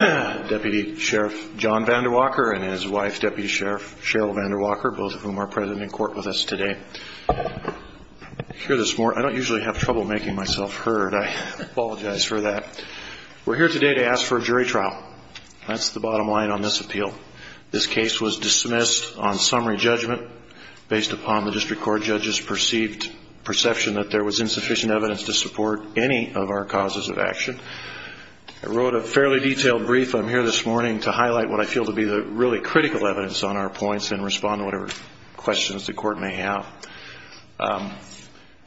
DEPUTY SHERIFF JOHN VANDERWALKER and HIS WIFE DEPUTY SHERIFF SHERYL VANDERWALKER, BOTH OF WHOM ARE PRESENT IN COURT WITH US TODAY. I don't usually have trouble making myself heard. I apologize for that. We're here today to ask for a jury trial. That's the bottom line on this appeal. This case was dismissed on summary judgment based upon the District Court judges' perceived perception that there was insufficient evidence to support any of our causes of action. I wrote a fairly detailed brief. I'm here this morning to highlight what I feel to be the really critical evidence on our points and respond to whatever questions the Court may have.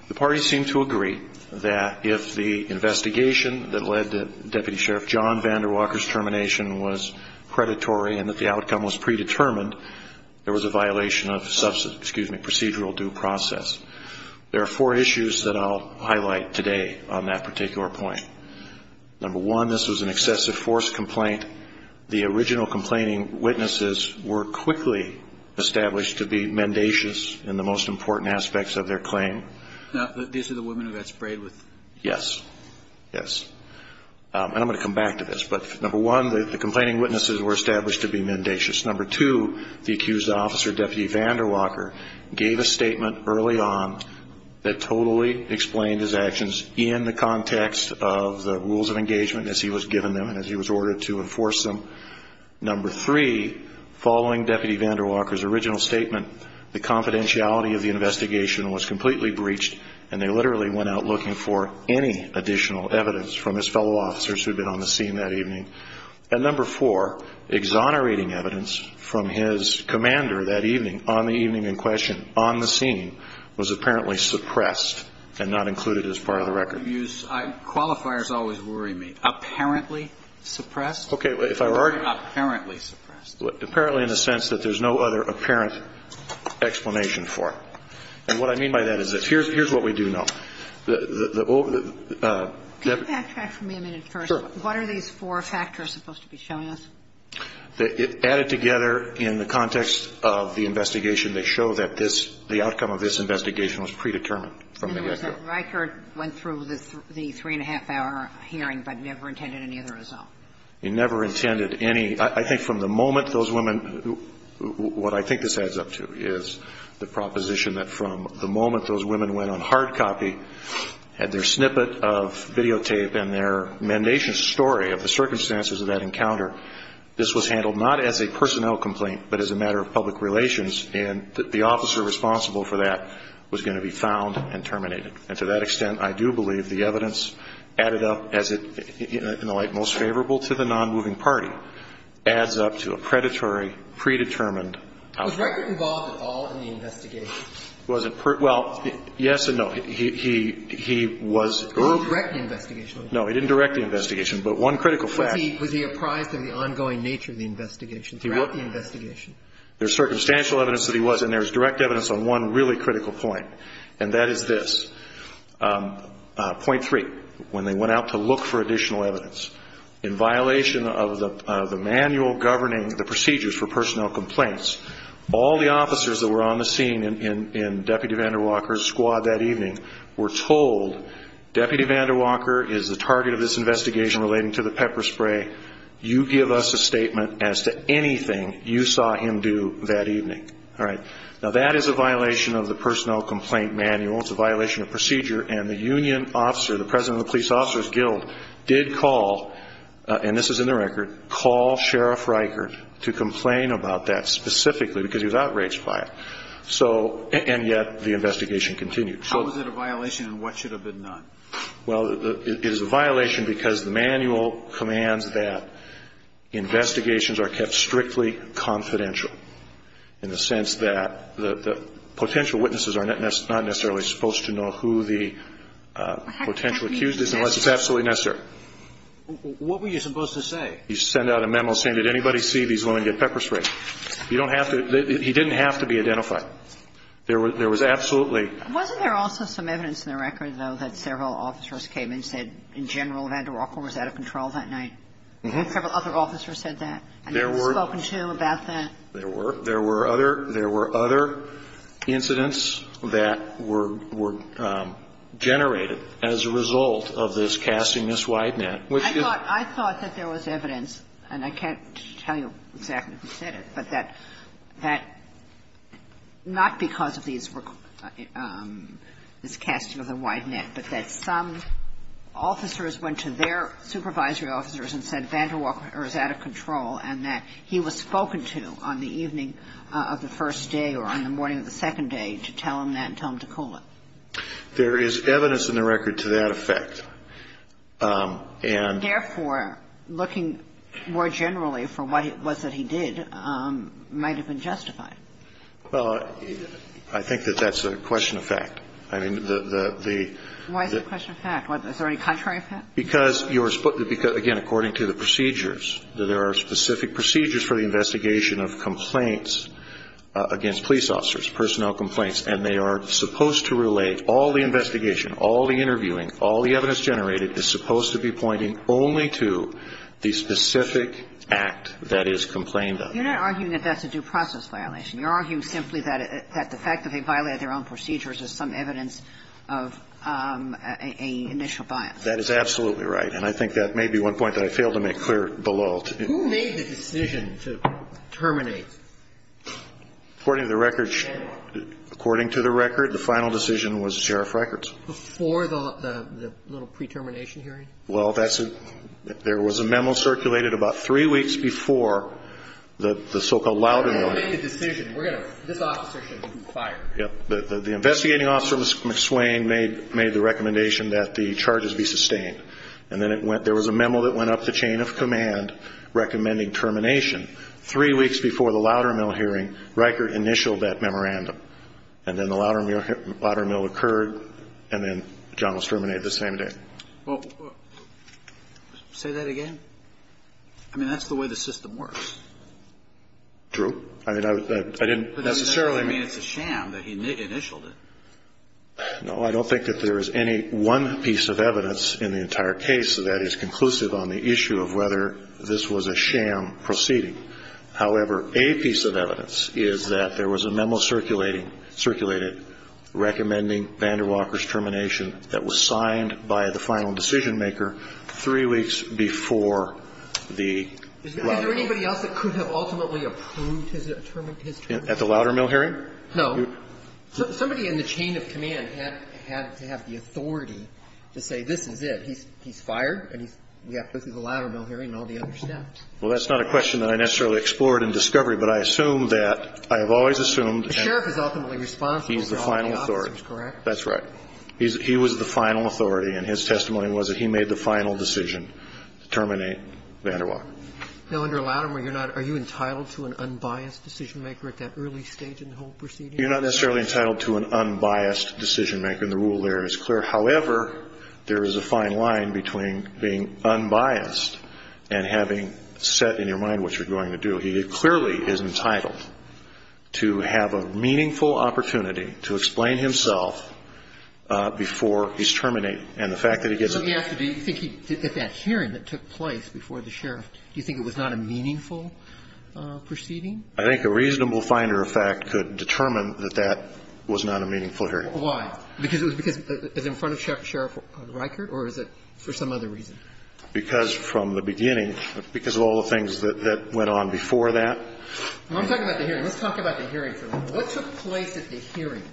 The parties seem to agree that if the investigation that led to Deputy Sheriff John VanderWalker's termination was predatory and that the outcome was predetermined, there was a violation of procedural due process. There are four issues that I'll highlight today on that particular point. Number one, this was an excessive force complaint. The original complaining witnesses were quickly established to be mendacious in the most important aspects of their claim. These are the women who got sprayed with... Yes. Yes. And I'm going to come back to this, but number one, the complaining witnesses were established to be mendacious. Number two, the accused officer, Deputy VanderWalker, gave a statement early on that totally explained his actions in the context of the rules of engagement as he was given them and as he was ordered to enforce them. Number three, following Deputy VanderWalker's original statement, the confidentiality of the investigation was completely breached and they literally went out looking for any additional evidence from his fellow officers who had been on the scene that evening. And number four, exonerating evidence from his commander that evening, on the evening in question, on the scene, was apparently suppressed and not included as part of the record. Qualifiers always worry me. Apparently suppressed? Okay. If I were arguing... Apparently suppressed. Apparently in the sense that there's no other apparent explanation for it. And what I mean by that is this. Here's what we do know. Can you backtrack for me a minute first? Sure. What are these four factors supposed to be showing us? They're added together in the context of the investigation. They show that this, the outcome of this investigation was predetermined from the get-go. In other words, that Reichert went through the three-and-a-half-hour hearing but never intended any other result. He never intended any. I think from the moment those women, what I think this adds up to is the proposition that from the moment those women went on hard copy, had their snippet of videotape and their mendacious story of the circumstances of that encounter, this was handled not as a personnel complaint but as a matter of public relations, and that the officer responsible for that was going to be found and terminated. And to that extent, I do believe the evidence added up as, in a way, most favorable to the nonmoving party adds up to a predatory, predetermined outcome. Was Reichert involved at all in the investigation? Well, yes and no. He was. He didn't direct the investigation. No, he didn't direct the investigation. But one critical fact. Was he apprised of the ongoing nature of the investigation throughout the investigation? There's circumstantial evidence that he was, and there's direct evidence on one really critical point, and that is this. Point three, when they went out to look for additional evidence, in violation of the manual governing the procedures for personnel complaints, all the officers that were on the scene in Deputy VanderWalker's squad that evening were told, Deputy VanderWalker is the target of this investigation relating to the pepper spray. You give us a statement as to anything you saw him do that evening. All right. Now, that is a violation of the personnel complaint manual. It's a violation of procedure, and the union officer, the president of the Police Officers Guild, did call, and this is in the record, call Sheriff Reichert to complain about that specifically because he was outraged by it. So, and yet the investigation continued. How is it a violation, and what should have been done? Well, it is a violation because the manual commands that investigations are kept strictly confidential in the sense that the potential witnesses are not necessarily supposed to know who the potential accused is unless it's absolutely necessary. What were you supposed to say? You send out a memo saying, did anybody see these women get pepper spray? You don't have to – he didn't have to be identified. There was absolutely – Wasn't there also some evidence in the record, though, that several officers came in and said, in general, VanderWalker was out of control that night? Several other officers said that? I mean, were you spoken to about that? There were. There were other incidents that were generated as a result of this casting this wide net. I thought that there was evidence, and I can't tell you exactly who said it, but that not because of this casting of the wide net, but that some officers went to their supervisory officers and said VanderWalker is out of control and that he was spoken to on the evening of the first day or on the morning of the second day to tell them that and tell them to cool it. There is evidence in the record to that effect, and – Therefore, looking more generally for what it was that he did might have been justified. Well, I think that that's a question of fact. I mean, the – Why is it a question of fact? Is there any contrary effect? Because you were – again, according to the procedures, there are specific procedures for the investigation of complaints against police officers, personnel complaints, and they are supposed to relate all the investigation, all the interviewing, all the evidence generated is supposed to be pointing only to the specific act that is complained of. You're not arguing that that's a due process violation. You're arguing simply that the fact that they violated their own procedures is some evidence of an initial bias. That is absolutely right, and I think that may be one point that I failed to make clear below. Who made the decision to terminate VanderWalker? According to the record, the final decision was Sheriff Rikerts. Before the little pre-termination hearing? Well, that's – there was a memo circulated about three weeks before the so-called Loudermill. We're going to make a decision. We're going to – this officer should be fired. Yep. The investigating officer, Mr. McSwain, made the recommendation that the charges be sustained, and then it went – there was a memo that went up the chain of command recommending termination. Three weeks before the Loudermill hearing, Rikert initialed that memorandum, and then the Loudermill occurred, and then John was terminated the same day. Well, say that again? I mean, that's the way the system works. True. I mean, I didn't necessarily – I mean, it's a sham that he initialed it. No, I don't think that there is any one piece of evidence in the entire case that is conclusive on the issue of whether this was a sham proceeding. However, a piece of evidence is that there was a memo circulating – circulated recommending VanderWalker's termination that was signed by the final decision-maker three weeks before the Loudermill hearing. Is there anybody else that could have ultimately approved his termination? At the Loudermill hearing? No. Somebody in the chain of command had to have the authority to say, this is it. He's fired, and we have to go through the Loudermill hearing and all the other steps. Well, that's not a question that I necessarily explored in discovery, but I assume that – I have always assumed that – The sheriff is ultimately responsible for all the officers, correct? He's the final authority. That's right. He was the final authority, and his testimony was that he made the final decision to terminate VanderWalker. Now, under Loudermill, you're not – are you entitled to an unbiased decision-maker at that early stage in the whole proceeding? You're not necessarily entitled to an unbiased decision-maker, and the rule there is clear. However, there is a fine line between being unbiased and having set in your mind what you're going to do. He clearly is entitled to have a meaningful opportunity to explain himself before he's terminated. And the fact that he gets a – So he asked, do you think that that hearing that took place before the sheriff, do you think it was not a meaningful proceeding? I think a reasonable finder of fact could determine that that was not a meaningful hearing. Why? Because it was in front of Sheriff Reichert, or is it for some other reason? Because from the beginning, because of all the things that went on before that. I'm talking about the hearing. Let's talk about the hearing for a moment. What took place at the hearing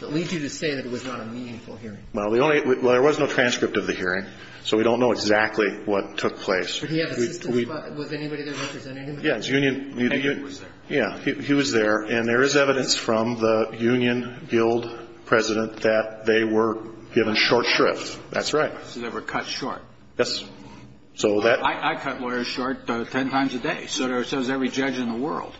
that leads you to say that it was not a meaningful hearing? Well, the only – well, there was no transcript of the hearing, so we don't know exactly what took place. Did he have assistance? Was anybody there representing him? Union. He was there. Yeah. He was there. And there is evidence from the Union Guild President that they were given short shrift. That's right. So they were cut short. Yes. So that – I cut lawyers short 10 times a day. So does every judge in the world.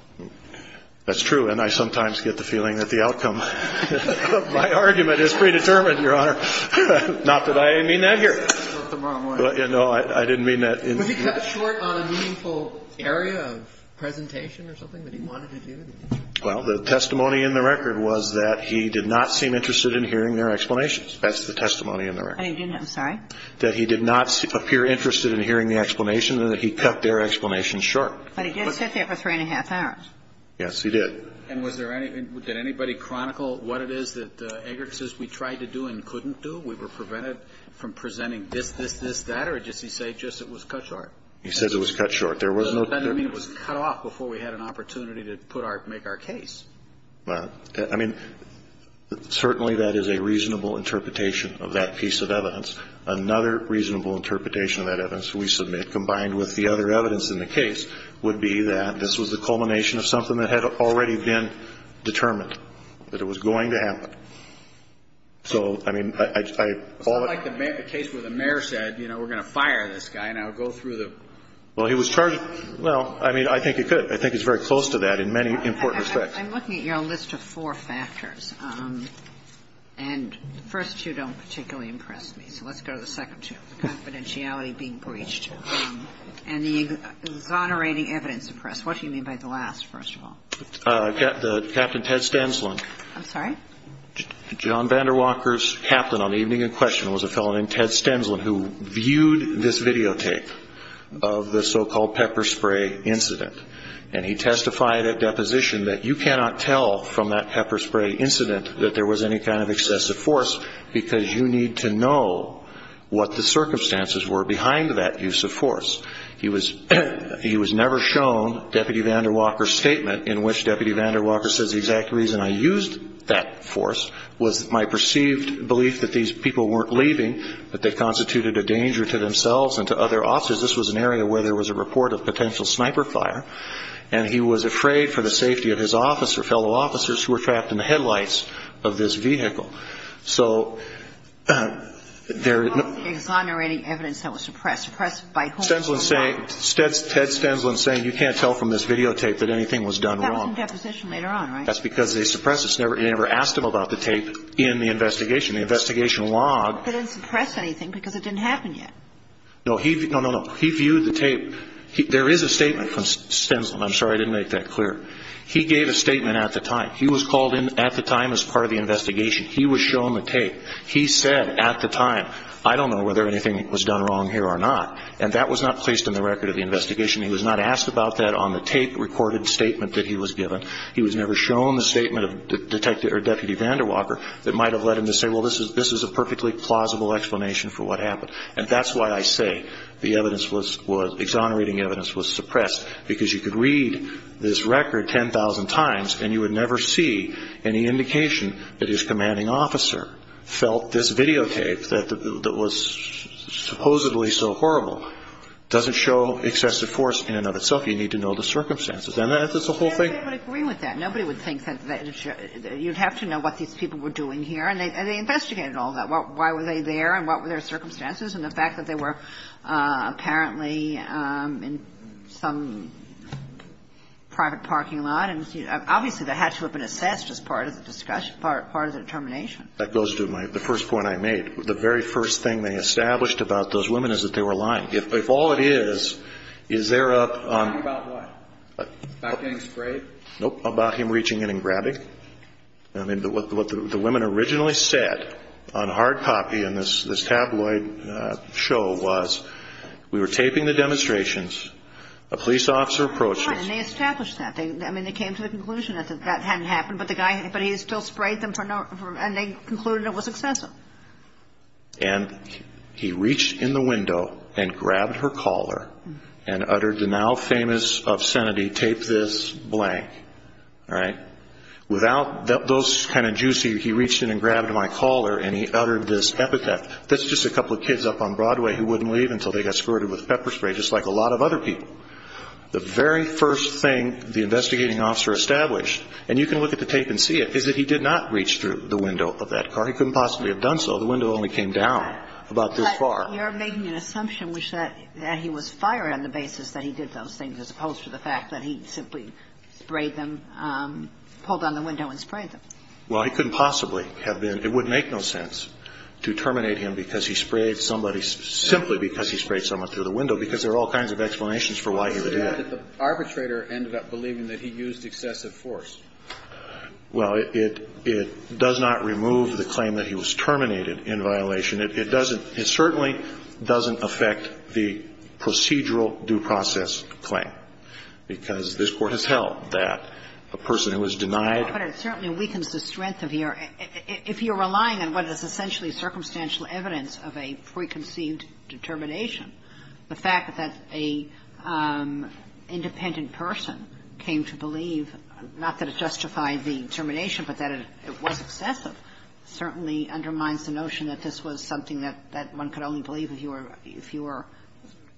That's true. And I sometimes get the feeling that the outcome of my argument is predetermined, Your Honor. Not that I mean that here. No, I didn't mean that. Was he cut short on a meaningful area of presentation or something that he wanted to do? Well, the testimony in the record was that he did not seem interested in hearing their explanations. That's the testimony in the record. And he didn't? I'm sorry? That he did not appear interested in hearing the explanation and that he cut their explanations short. But he did sit there for three and a half hours. Yes, he did. And was there any – did anybody chronicle what it is that Eggert says we tried to do and couldn't do? We were prevented from presenting this, this, this, that? Or does he say just it was cut short? He says it was cut short. There was no – Does that mean it was cut off before we had an opportunity to put our – make our case? Well, I mean, certainly that is a reasonable interpretation of that piece of evidence. Another reasonable interpretation of that evidence we submit, combined with the other evidence in the case, would be that this was the culmination of something that had already been determined, that it was going to happen. So, I mean, I – It's not like the case where the mayor said, you know, we're going to fire this guy, and I'll go through the – Well, he was charged – well, I mean, I think he could. I think he's very close to that in many important respects. I'm looking at your list of four factors. And the first two don't particularly impress me. So let's go to the second two, the confidentiality being breached and the exonerating evidence of press. What do you mean by the last, first of all? Captain Ted Stensland. I'm sorry? John VanderWalker's captain on the evening in question was a fellow named Ted Stensland who viewed this videotape of the so-called pepper spray incident. And he testified at deposition that you cannot tell from that pepper spray incident that there was any kind of excessive force because you need to know what the circumstances were behind that use of force. He was never shown Deputy VanderWalker's statement in which Deputy VanderWalker said the exact reason I used that force was my perceived belief that these people weren't leaving, that they constituted a danger to themselves and to other officers. This was an area where there was a report of potential sniper fire. And he was afraid for the safety of his office or fellow officers who were trapped in the headlights of this vehicle. So there – Exonerating evidence that was suppressed. Suppressed by whom? Stensland saying – Ted Stensland saying you can't tell from this videotape that anything was done wrong. That was in deposition later on, right? That's because they suppressed it. They never asked him about the tape in the investigation. The investigation log – They didn't suppress anything because it didn't happen yet. No. No, no, no. He viewed the tape. There is a statement from Stensland. I'm sorry I didn't make that clear. He gave a statement at the time. He was called in at the time as part of the investigation. He was shown the tape. He said at the time, I don't know whether anything was done wrong here or not. And that was not placed in the record of the investigation. He was not asked about that on the tape-recorded statement that he was given. He was never shown the statement of Deputy VanderWalker that might have led him to say, well, this is a perfectly plausible explanation for what happened. And that's why I say the evidence was – exonerating evidence was suppressed because you could read this record 10,000 times and you would never see any indication that his commanding officer felt this videotape that was supposedly so horrible doesn't show excessive force in and of itself. You need to know the circumstances. And that's the whole thing. Nobody would agree with that. Nobody would think that you'd have to know what these people were doing here. And they investigated all that. Why were they there and what were their circumstances? And the fact that they were apparently in some private parking lot. And obviously, that had to have been assessed as part of the discussion, part of the determination. That goes to the first point I made. The very first thing they established about those women is that they were lying. If all it is, is they're up on – Talking about what? About getting sprayed? Nope. About him reaching in and grabbing? I mean, what the women originally said on hard copy in this tabloid show was, we were taping the demonstrations, a police officer approaches – And they established that. I mean, they came to the conclusion that that hadn't happened. But he still sprayed them and they concluded it was excessive. And he reached in the window and grabbed her collar and uttered the now famous obscenity, tape this blank. Without those kind of juices, he reached in and grabbed my collar and he uttered this epithet. That's just a couple of kids up on Broadway who wouldn't leave until they got squirted with pepper spray, just like a lot of other people. The very first thing the investigating officer established, and you can look at the tape and see it, is that he did not reach through the window of that car. He couldn't possibly have done so. The window only came down about this far. But you're making an assumption which that he was fired on the basis that he did those things, as opposed to the fact that he simply sprayed them, pulled on the window and sprayed them. Well, he couldn't possibly have been. It would make no sense to terminate him because he sprayed somebody, simply because he sprayed someone through the window, because there are all kinds of explanations for why he would do that. But the arbitrator ended up believing that he used excessive force. Well, it does not remove the claim that he was terminated in violation. It doesn't – it certainly doesn't affect the procedural due process claim, because this Court has held that a person who is denied. But it certainly weakens the strength of your – if you're relying on what is essentially circumstantial evidence of a preconceived determination. The fact that a independent person came to believe, not that it justified the termination, but that it was excessive, certainly undermines the notion that this was something that one could only believe if you were –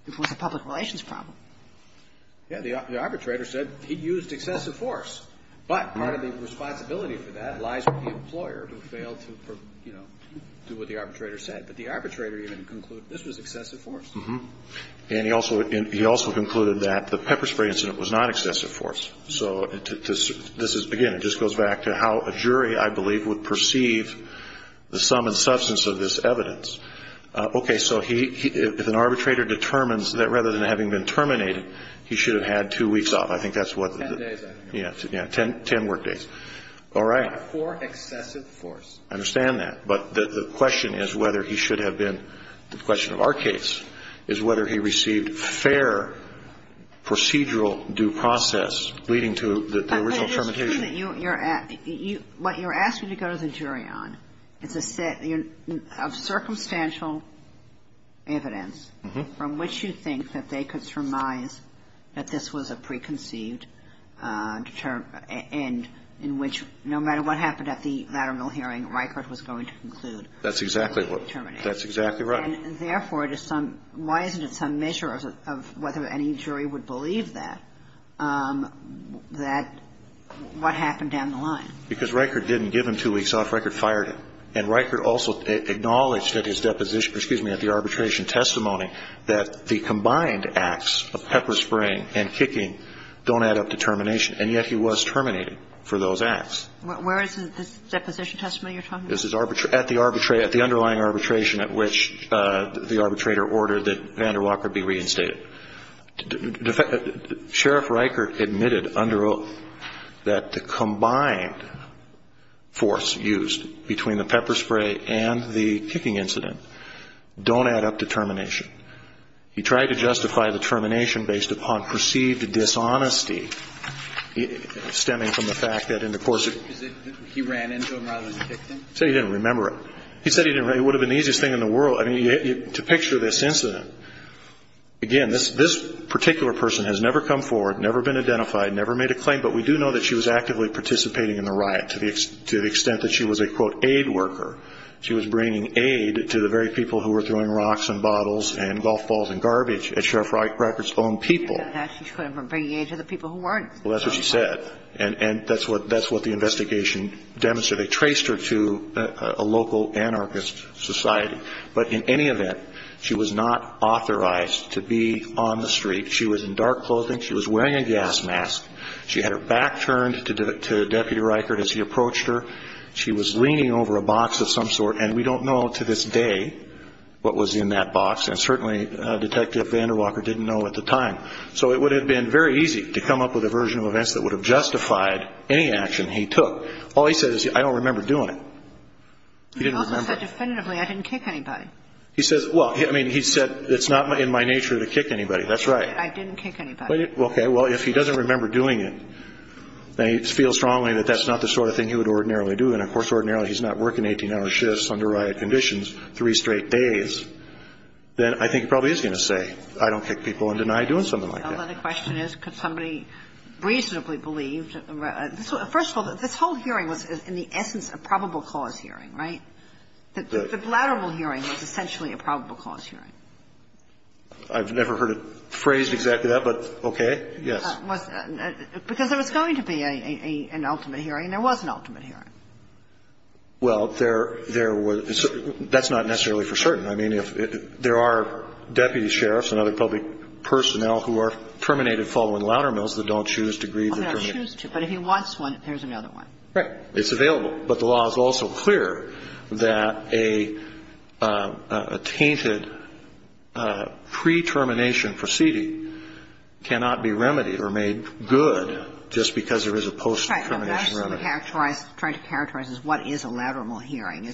if it was a public relations problem. Yeah. The arbitrator said he used excessive force. But part of the responsibility for that lies with the employer who failed to, you know, do what the arbitrator said. But the arbitrator even concluded this was excessive force. And he also concluded that the pepper spray incident was not excessive force. So this is – again, it just goes back to how a jury, I believe, would perceive the sum and substance of this evidence. Okay. So if an arbitrator determines that rather than having been terminated, he should have had two weeks off. I think that's what the – Ten days, I think. Yeah. Ten work days. All right. Or excessive force. I understand that. But the question is whether he should have been – the question of our case is whether he received fair procedural due process leading to the original termination. But it is true that you're – what you're asking to go to the jury on, it's a set of circumstantial evidence from which you think that they could surmise that this was a preconceived end in which no matter what happened at the lateral hearing, Reichert was going to conclude. That's exactly what – that's exactly right. And therefore, it is some – why isn't it some measure of whether any jury would believe that, that – what happened down the line? Because Reichert didn't give him two weeks off. Reichert fired him. And Reichert also acknowledged at his deposition – excuse me, at the arbitration testimony that the combined acts of pepper spraying and kicking don't add up to termination. And yet he was terminated for those acts. Where is this deposition testimony you're talking about? At the arbitration – at the underlying arbitration at which the arbitrator ordered that Vander Walker be reinstated. Sheriff Reichert admitted under oath that the combined force used between the pepper spraying and kicking incident don't add up to termination. He tried to justify the termination based upon perceived dishonesty stemming from the fact that in the course of – He ran into him rather than kicked him? He said he didn't remember it. He said he didn't – it would have been the easiest thing in the world. I mean, to picture this incident, again, this particular person has never come forward, never been identified, never made a claim. But we do know that she was actively participating in the riot to the extent that she was a, quote, aid worker. She was bringing aid to the very people who were throwing rocks and bottles and golf balls and garbage at Sheriff Reichert's own people. She said that. She was bringing aid to the people who weren't. Well, that's what she said. And that's what the investigation demonstrated. They traced her to a local anarchist society. But in any event, she was not authorized to be on the street. She was in dark clothing. She was wearing a gas mask. She had her back turned to Deputy Reichert as he approached her. She was leaning over a box of some sort. And we don't know to this day what was in that box. And certainly, Detective VanderWalker didn't know at the time. So it would have been very easy to come up with a version of events that would have justified any action he took. All he said is, I don't remember doing it. He didn't remember. He also said definitively, I didn't kick anybody. He says – well, I mean, he said it's not in my nature to kick anybody. That's right. I didn't kick anybody. Okay. Well, if he doesn't remember doing it, then he feels strongly that that's not the sort of thing he would ordinarily do. And, of course, ordinarily, he's not working 18-hour shifts under riot conditions three straight days. Then I think he probably is going to say, I don't kick people and deny doing something like that. Well, then the question is, could somebody reasonably believe – first of all, this whole hearing was, in the essence, a probable cause hearing, right? The bladderable hearing was essentially a probable cause hearing. I've never heard it phrased exactly that, but okay, yes. Because there was going to be an ultimate hearing, and there was an ultimate hearing. Well, there was – that's not necessarily for certain. I mean, there are deputy sheriffs and other public personnel who are terminated following louder mills that don't choose to grieve the termination. Well, they don't choose to, but if he wants one, there's another one. Right. It's available. But the law is also clear that a tainted pre-termination proceeding cannot be remedied or made good just because there is a post-termination remedy. Right. What I'm trying to characterize is what is a louder mill hearing.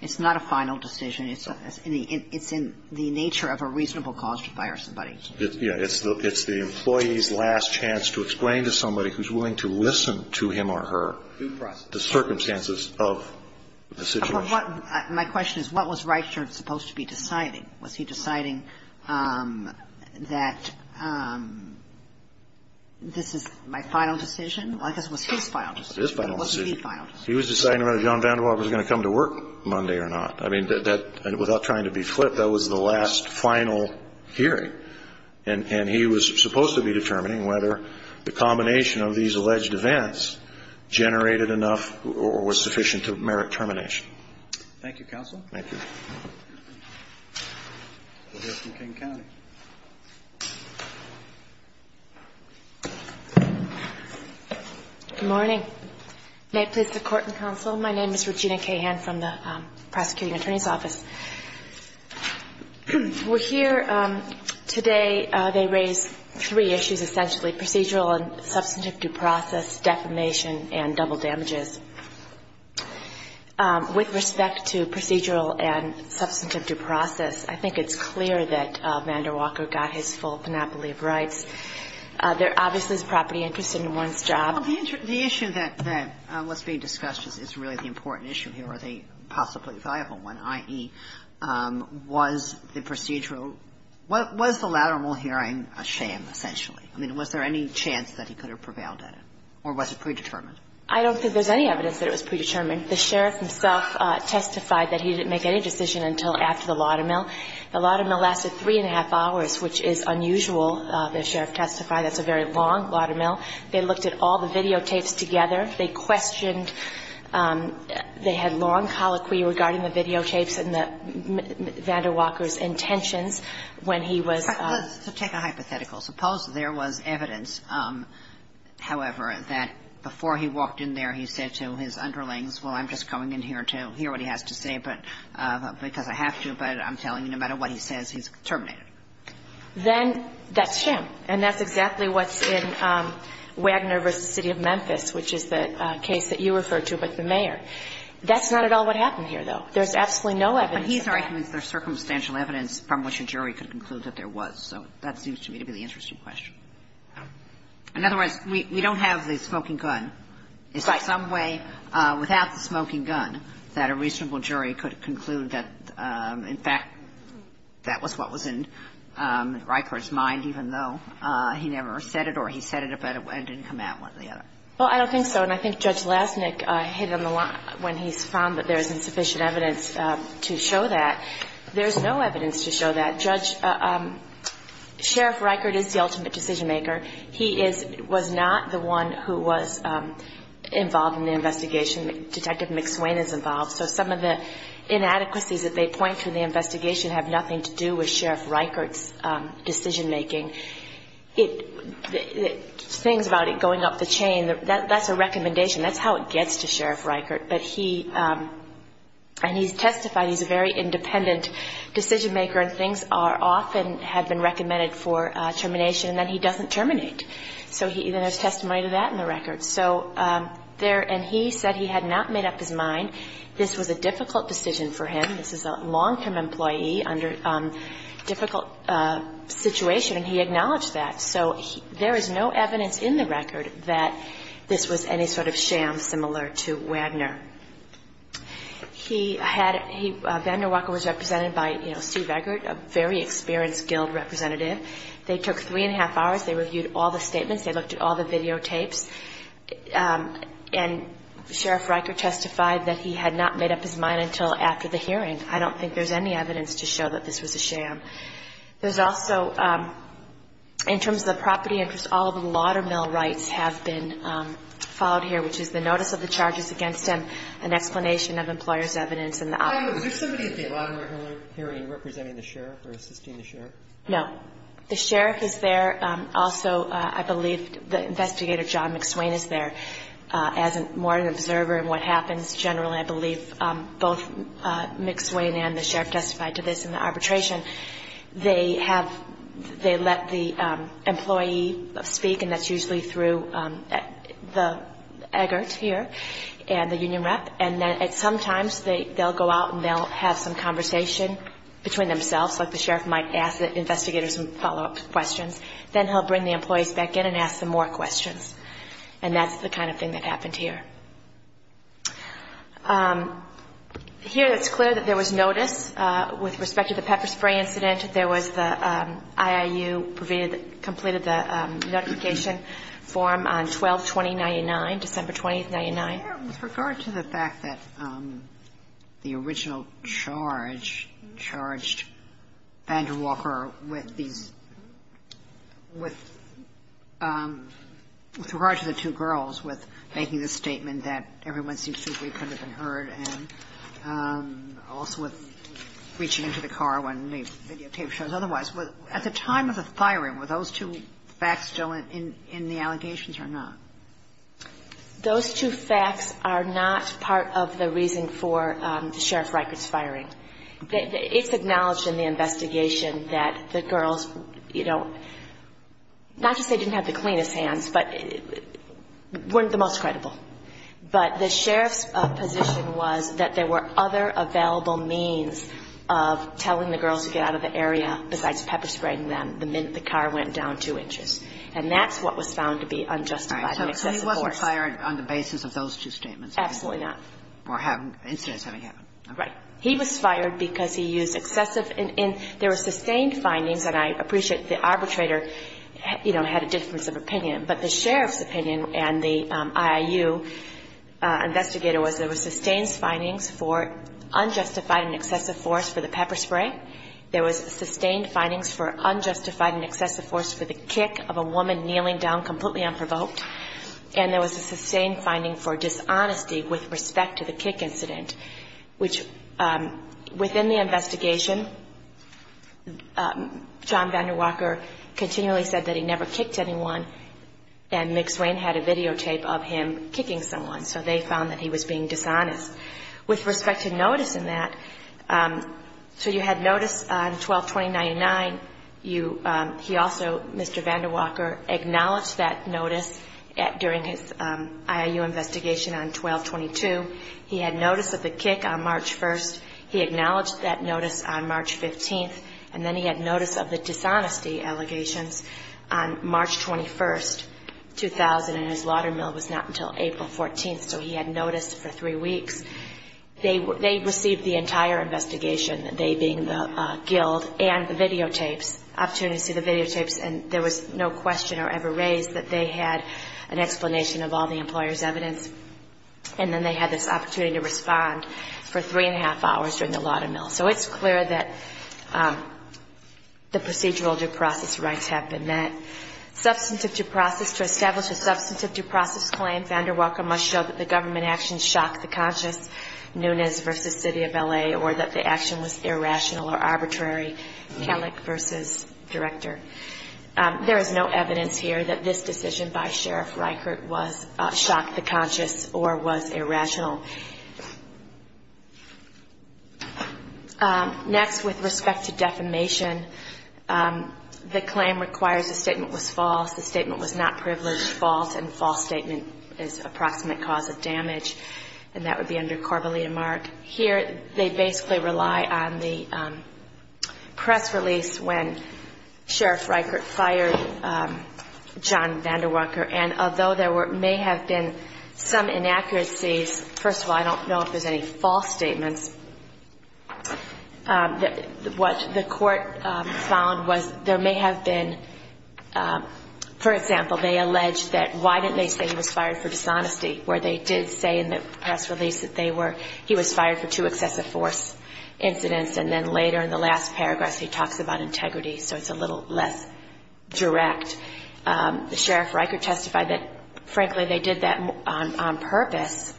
It's not a final decision. It's in the nature of a reasonable cause to fire somebody. Yeah. It's the employee's last chance to explain to somebody who's willing to listen to him or her the circumstances of the situation. My question is, what was Reichert supposed to be deciding? Was he deciding that this is my final decision? Well, I guess it was his final decision. It was his final decision. It wasn't the final decision. He was deciding whether John Vander Waal was going to come to work Monday or not. I mean, that – without trying to be flip, that was the last final hearing. And he was supposed to be determining whether the combination of these alleged events generated enough or was sufficient to merit termination. Thank you, counsel. Thank you. We'll go from King County. Good morning. May it please the Court and counsel, my name is Regina Cahan from the Prosecuting Attorney's Office. We're here today. They raised three issues, essentially, procedural and substantive due process, defamation, and double damages. With respect to procedural and substantive due process, I think it's clear that Vander Walker got his full panoply of rights. There obviously is property interest in one's job. Well, the issue that was being discussed is really the important issue here, or the possibly valuable one, i.e., was the procedural – was the lateral hearing a sham, essentially? I mean, was there any chance that he could have prevailed at it, or was it predetermined? I don't think there's any evidence that it was predetermined. The sheriff himself testified that he didn't make any decision until after the laudamill. The laudamill lasted three and a half hours, which is unusual. The sheriff testified that's a very long laudamill. They looked at all the videotapes together. They questioned – they had long colloquy regarding the videotapes and the – Vander Walker's intentions when he was – So take a hypothetical. Suppose there was evidence, however, that before he walked in there, he said to his underlings, well, I'm just going in here to hear what he has to say because I have to, but I'm telling you no matter what he says, he's terminated. Then that's sham, and that's exactly what's in Wagner v. City of Memphis, which is the case that you referred to with the mayor. That's not at all what happened here, though. There's absolutely no evidence of that. And his argument is there's circumstantial evidence from which a jury could conclude that there was. So that seems to me to be the interesting question. In other words, we don't have the smoking gun. Is there some way without the smoking gun that a reasonable jury could conclude that, in fact, that was what was in Ryker's mind even though he never said it or he said it and it didn't come out one way or the other? Well, I don't think so, and I think Judge Lasnik hit it on the line when he found that there's insufficient evidence to show that. There's no evidence to show that. Sheriff Ryker is the ultimate decision maker. He was not the one who was involved in the investigation. Detective McSwain is involved. So some of the inadequacies that they point to in the investigation have nothing to do with Sheriff Ryker's decision making. Things about it going up the chain, that's a recommendation. That's how it gets to Sheriff Ryker. But he, and he's testified he's a very independent decision maker and things often have been recommended for termination and then he doesn't terminate. So then there's testimony to that in the record. So there, and he said he had not made up his mind. This was a difficult decision for him. This is a long-term employee under a difficult situation, and he acknowledged that. So there is no evidence in the record that this was any sort of sham similar to Wagner. He had, Wagner Walker was represented by, you know, Steve Eggert, a very experienced guild representative. They took three and a half hours. They reviewed all the statements. They looked at all the videotapes. And Sheriff Ryker testified that he had not made up his mind until after the hearing. There's also, in terms of the property interest, all of the Laudermill rights have been followed here, which is the notice of the charges against him, an explanation of employer's evidence, and the opposite. Sotomayor, was there somebody at the Laudermill hearing representing the sheriff or assisting the sheriff? No. The sheriff is there. Also, I believe the investigator, John McSwain, is there as more of an observer in what happens. Generally, I believe both McSwain and the sheriff testified to this in the arbitration. They have, they let the employee speak, and that's usually through the Eggert here and the union rep. And sometimes they'll go out and they'll have some conversation between themselves, like the sheriff might ask the investigators some follow-up questions. Then he'll bring the employees back in and ask them more questions. And that's the kind of thing that happened here. Here, it's clear that there was notice with respect to the pepper spray incident. There was the IIU completed the notification form on 12-2099, December 20, 1999. With regard to the fact that the original charge charged Vandewalker with these – with regard to the two girls, with making the statement that everyone seems to think we could have been hurt, and also with reaching into the car when the videotape shows otherwise, at the time of the firing, were those two facts still in the allegations or not? Those two facts are not part of the reason for the sheriff's records firing. It's acknowledged in the investigation that the girls, you know, not just they didn't have the cleanest hands, but weren't the most credible. But the sheriff's position was that there were other available means of telling the girls to get out of the area besides pepper spraying them the minute the car went down two inches. And that's what was found to be unjustified and excessive force. All right. So he wasn't fired on the basis of those two statements? Absolutely not. Or incidents having happened. Right. He was fired because he used excessive – and there were sustained findings, and I appreciate the arbitrator, you know, had a difference of opinion. But the sheriff's opinion and the IIU investigator was there were sustained findings for unjustified and excessive force for the pepper spray. There was sustained findings for unjustified and excessive force for the kick of a woman kneeling down completely unprovoked. And there was a sustained finding for dishonesty with respect to the kick incident, which within the investigation, John VanderWalker continually said that he never kicked anyone, and McSwain had a videotape of him kicking someone. So they found that he was being dishonest. With respect to notice in that, so you had notice on 12-2099. He also, Mr. VanderWalker, acknowledged that notice during his IIU investigation on 12-22. He had notice of the kick on March 1st. He acknowledged that notice on March 15th. And then he had notice of the dishonesty allegations on March 21st, 2000, and his laudermill was not until April 14th. So he had notice for three weeks. They received the entire investigation, they being the guild and the videotapes, opportunity to see the videotapes, and there was no question or ever raised that they had an explanation of all the employer's evidence. And then they had this opportunity to respond for three and a half hours during the laudermill. So it's clear that the procedural due process rights have been met. Substantive due process, to establish a substantive due process claim, Mr. VanderWalker must show that the government actions shocked the conscience, Nunez v. City of L.A., or that the action was irrational or arbitrary, Kellick v. Director. There is no evidence here that this decision by Sheriff Reichert shocked the conscience or was irrational. Next, with respect to defamation, the claim requires a statement was false, the statement was not privileged, false, and false statement is approximate cause of damage, and that would be under Corbellia Mark. Here they basically rely on the press release when Sheriff Reichert fired John VanderWalker, and although there may have been some inaccuracies, first of all, I don't know if there's any false statements, what the court found was there may have been, for example, they alleged that why didn't they say he was fired for dishonesty, where they did say in the press release that he was fired for two excessive force incidents, and then later in the last paragraph he talks about integrity, so it's a little less direct. The Sheriff Reichert testified that, frankly, they did that on purpose,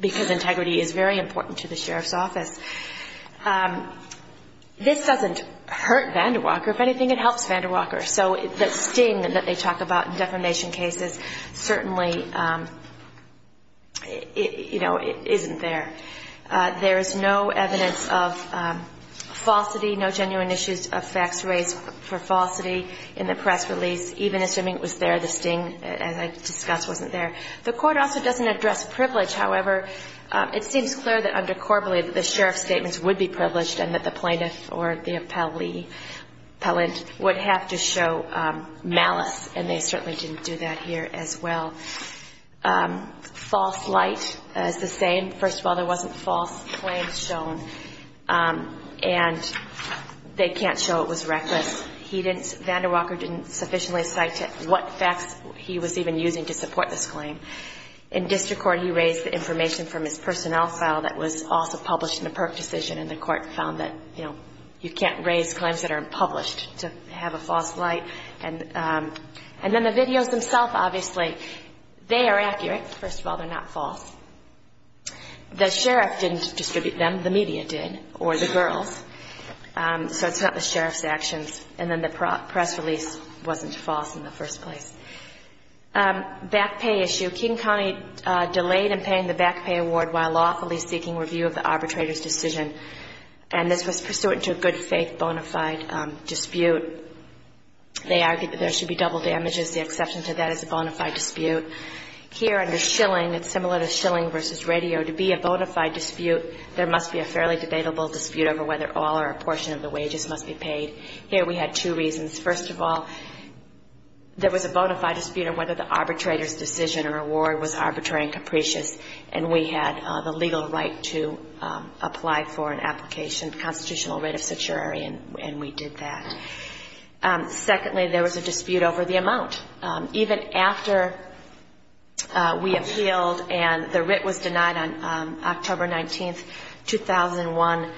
because integrity is very important to the sheriff's office. This doesn't hurt VanderWalker. If anything, it helps VanderWalker. So the sting that they talk about in defamation cases certainly, you know, isn't there. There is no evidence of falsity, no genuine issues of facts raised for falsity in the press release. Even assuming it was there, the sting, as I discussed, wasn't there. The court also doesn't address privilege. However, it seems clear that under corporeal that the sheriff's statements would be privileged and that the plaintiff or the appellant would have to show malice, and they certainly didn't do that here as well. False light is the same. First of all, there wasn't false claims shown, and they can't show it was reckless. VanderWalker didn't sufficiently cite what facts he was even using to support this claim. In district court, he raised the information from his personnel file that was also published in a PERC decision, and the court found that, you know, you can't raise claims that are unpublished to have a false light. And then the videos themselves, obviously, they are accurate. First of all, they're not false. The sheriff didn't distribute them. The media did, or the girls. So it's not the sheriff's actions. And then the press release wasn't false in the first place. Back pay issue. Keeton County delayed in paying the back pay award while lawfully seeking review of the arbitrator's decision, and this was pursuant to a good-faith bona fide dispute. They argued that there should be double damages. The exception to that is a bona fide dispute. Here under shilling, it's similar to shilling versus radio. To be a bona fide dispute, there must be a fairly debatable dispute over whether all or a portion of the wages must be paid. Here we had two reasons. First of all, there was a bona fide dispute over whether the arbitrator's decision or award was arbitrary and capricious, and we had the legal right to apply for an application, constitutional writ of certiorari, and we did that. Even after we appealed and the writ was denied on October 19th, 2001,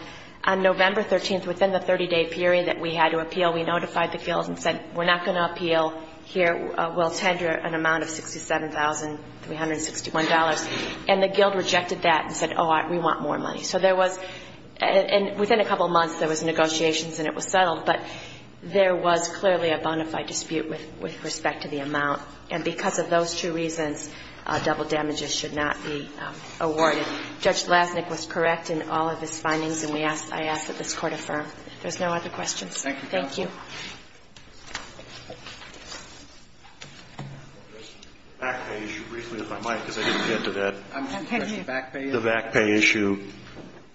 on November 13th, within the 30-day period that we had to appeal, we notified the guild and said, we're not going to appeal here, we'll tender an amount of $67,361. And the guild rejected that and said, oh, we want more money. So there was, and within a couple months there was negotiations and it was settled, but there was clearly a bona fide dispute with respect to the amount. And because of those two reasons, double damages should not be awarded. Judge Lasnik was correct in all of his findings, and I ask that this Court affirm. If there's no other questions, thank you. Thank you, counsel. The VAC pay issue,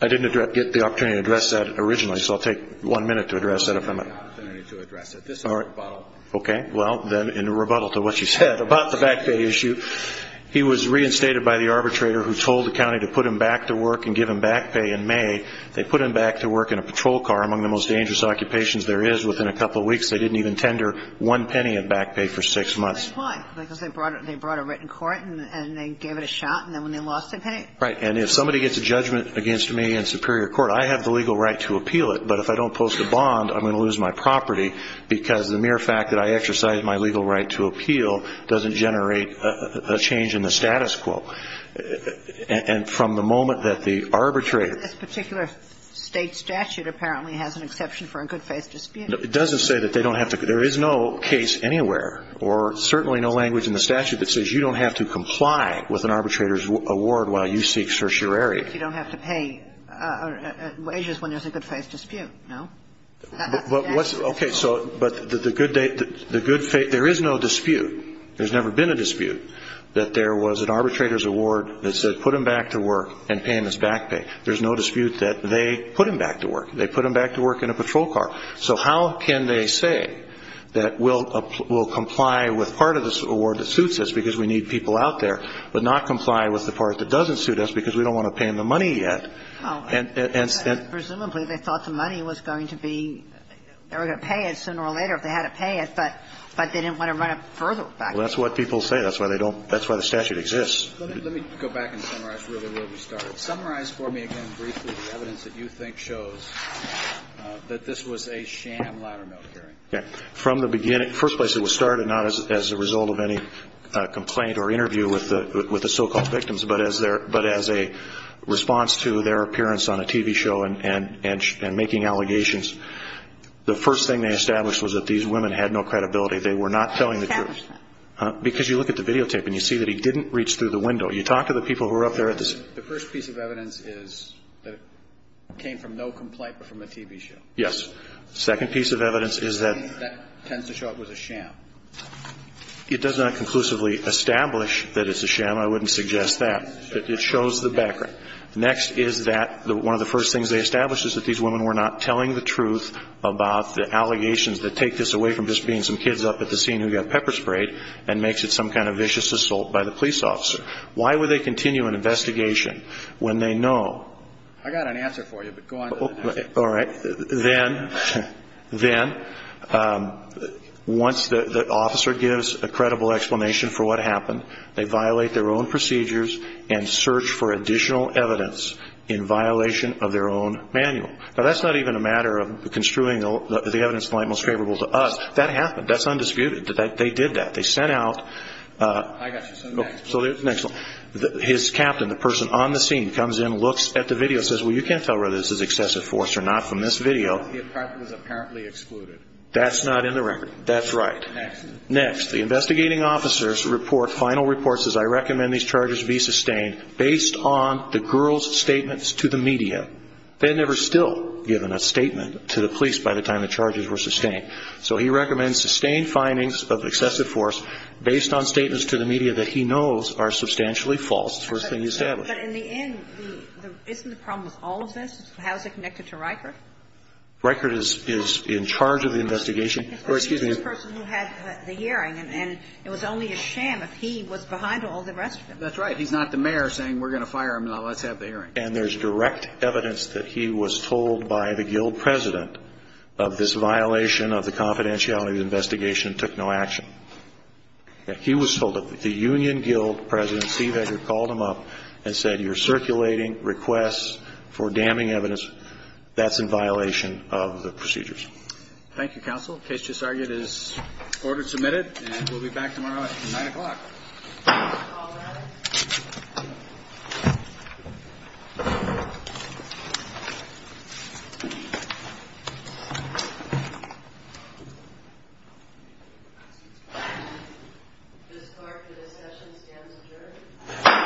I didn't get the opportunity to address that originally, so I'll take one minute to address that if I may. I didn't get the opportunity to address it. This is a rebuttal. Okay. Well, then, in a rebuttal to what you said about the VAC pay issue, he was reinstated by the arbitrator who told the county to put him back to work and give him VAC pay in May. They put him back to work in a patrol car. Among the most dangerous occupations there is, within a couple weeks, they didn't even tender one penny of VAC pay for six months. That's why, because they brought a written court and they gave it a shot, and then when they lost their pay? Right. And if somebody gets a judgment against me in superior court, I have the legal right to appeal it. But if I don't post a bond, I'm going to lose my property because the mere fact that I exercise my legal right to appeal doesn't generate a change in the status quo. And from the moment that the arbitrator ---- This particular State statute apparently has an exception for a good-faith dispute. It doesn't say that they don't have to ---- there is no case anywhere, or certainly no language in the statute that says you don't have to comply with an arbitrator's award while you seek certiorari. You don't have to pay wages when there's a good-faith dispute, no? Okay. So but the good ---- there is no dispute. There's never been a dispute that there was an arbitrator's award that said put him back to work and pay him his VAC pay. There's no dispute that they put him back to work. They put him back to work in a patrol car. So how can they say that we'll comply with part of this award that suits us because we need people out there, but not comply with the part that doesn't suit us because we don't want to pay them the money yet? And so ---- Presumably, they thought the money was going to be ---- they were going to pay it sooner or later if they had to pay it, but they didn't want to run it further back. Well, that's what people say. That's why they don't ---- that's why the statute exists. Let me go back and summarize really where we started. Summarize for me again briefly the evidence that you think shows that this was a sham ladder-melt hearing. From the beginning, first place it was started, not as a result of any complaint or interview with the so-called victims, but as a response to their appearance on a TV show and making allegations, the first thing they established was that these women had no credibility. They were not telling the truth. Because you look at the videotape and you see that he didn't reach through the window. You talk to the people who were up there at the ---- The first piece of evidence is that it came from no complaint but from a TV show. Yes. Second piece of evidence is that ---- That tends to show it was a sham. It does not conclusively establish that it's a sham. I wouldn't suggest that. It shows the background. Next is that one of the first things they established is that these women were not telling the truth about the allegations that take this away from just being some kids up at the scene who got pepper sprayed and makes it some kind of vicious assault by the police officer. Why would they continue an investigation when they know ---- I got an answer for you, but go on. All right. Then once the officer gives a credible explanation for what happened, they violate their own procedures and search for additional evidence in violation of their own manual. Now, that's not even a matter of construing the evidence in the light most favorable to us. That happened. That's undisputed. They did that. They sent out ---- I got you. So next one. His captain, the person on the scene, comes in, looks at the video and says, well, you know, it's not in the record. It was apparently excluded. That's not in the record. That's right. Next. Next. The investigating officers report final reports as I recommend these charges be sustained based on the girl's statements to the media. They had never still given a statement to the police by the time the charges were sustained. So he recommends sustained findings of excessive force based on statements to the media that he knows are substantially false. It's the first thing he established. But in the end, isn't the problem with all of this? How is it connected to Reichert? Reichert is in charge of the investigation. Or excuse me. He's the person who had the hearing, and it was only a sham if he was behind all the rest of it. That's right. He's not the mayor saying we're going to fire him, now let's have the hearing. And there's direct evidence that he was told by the guild president of this violation of the confidentiality of the investigation and took no action. He was told that the union guild president, Steve Edgar, called him up and said, you're circulating requests for damning evidence. That's in violation of the procedures. Thank you, counsel. The case just argued is order submitted, and we'll be back tomorrow at 9 o'clock. All rise. This clerk for this session stands adjourned. Thank you.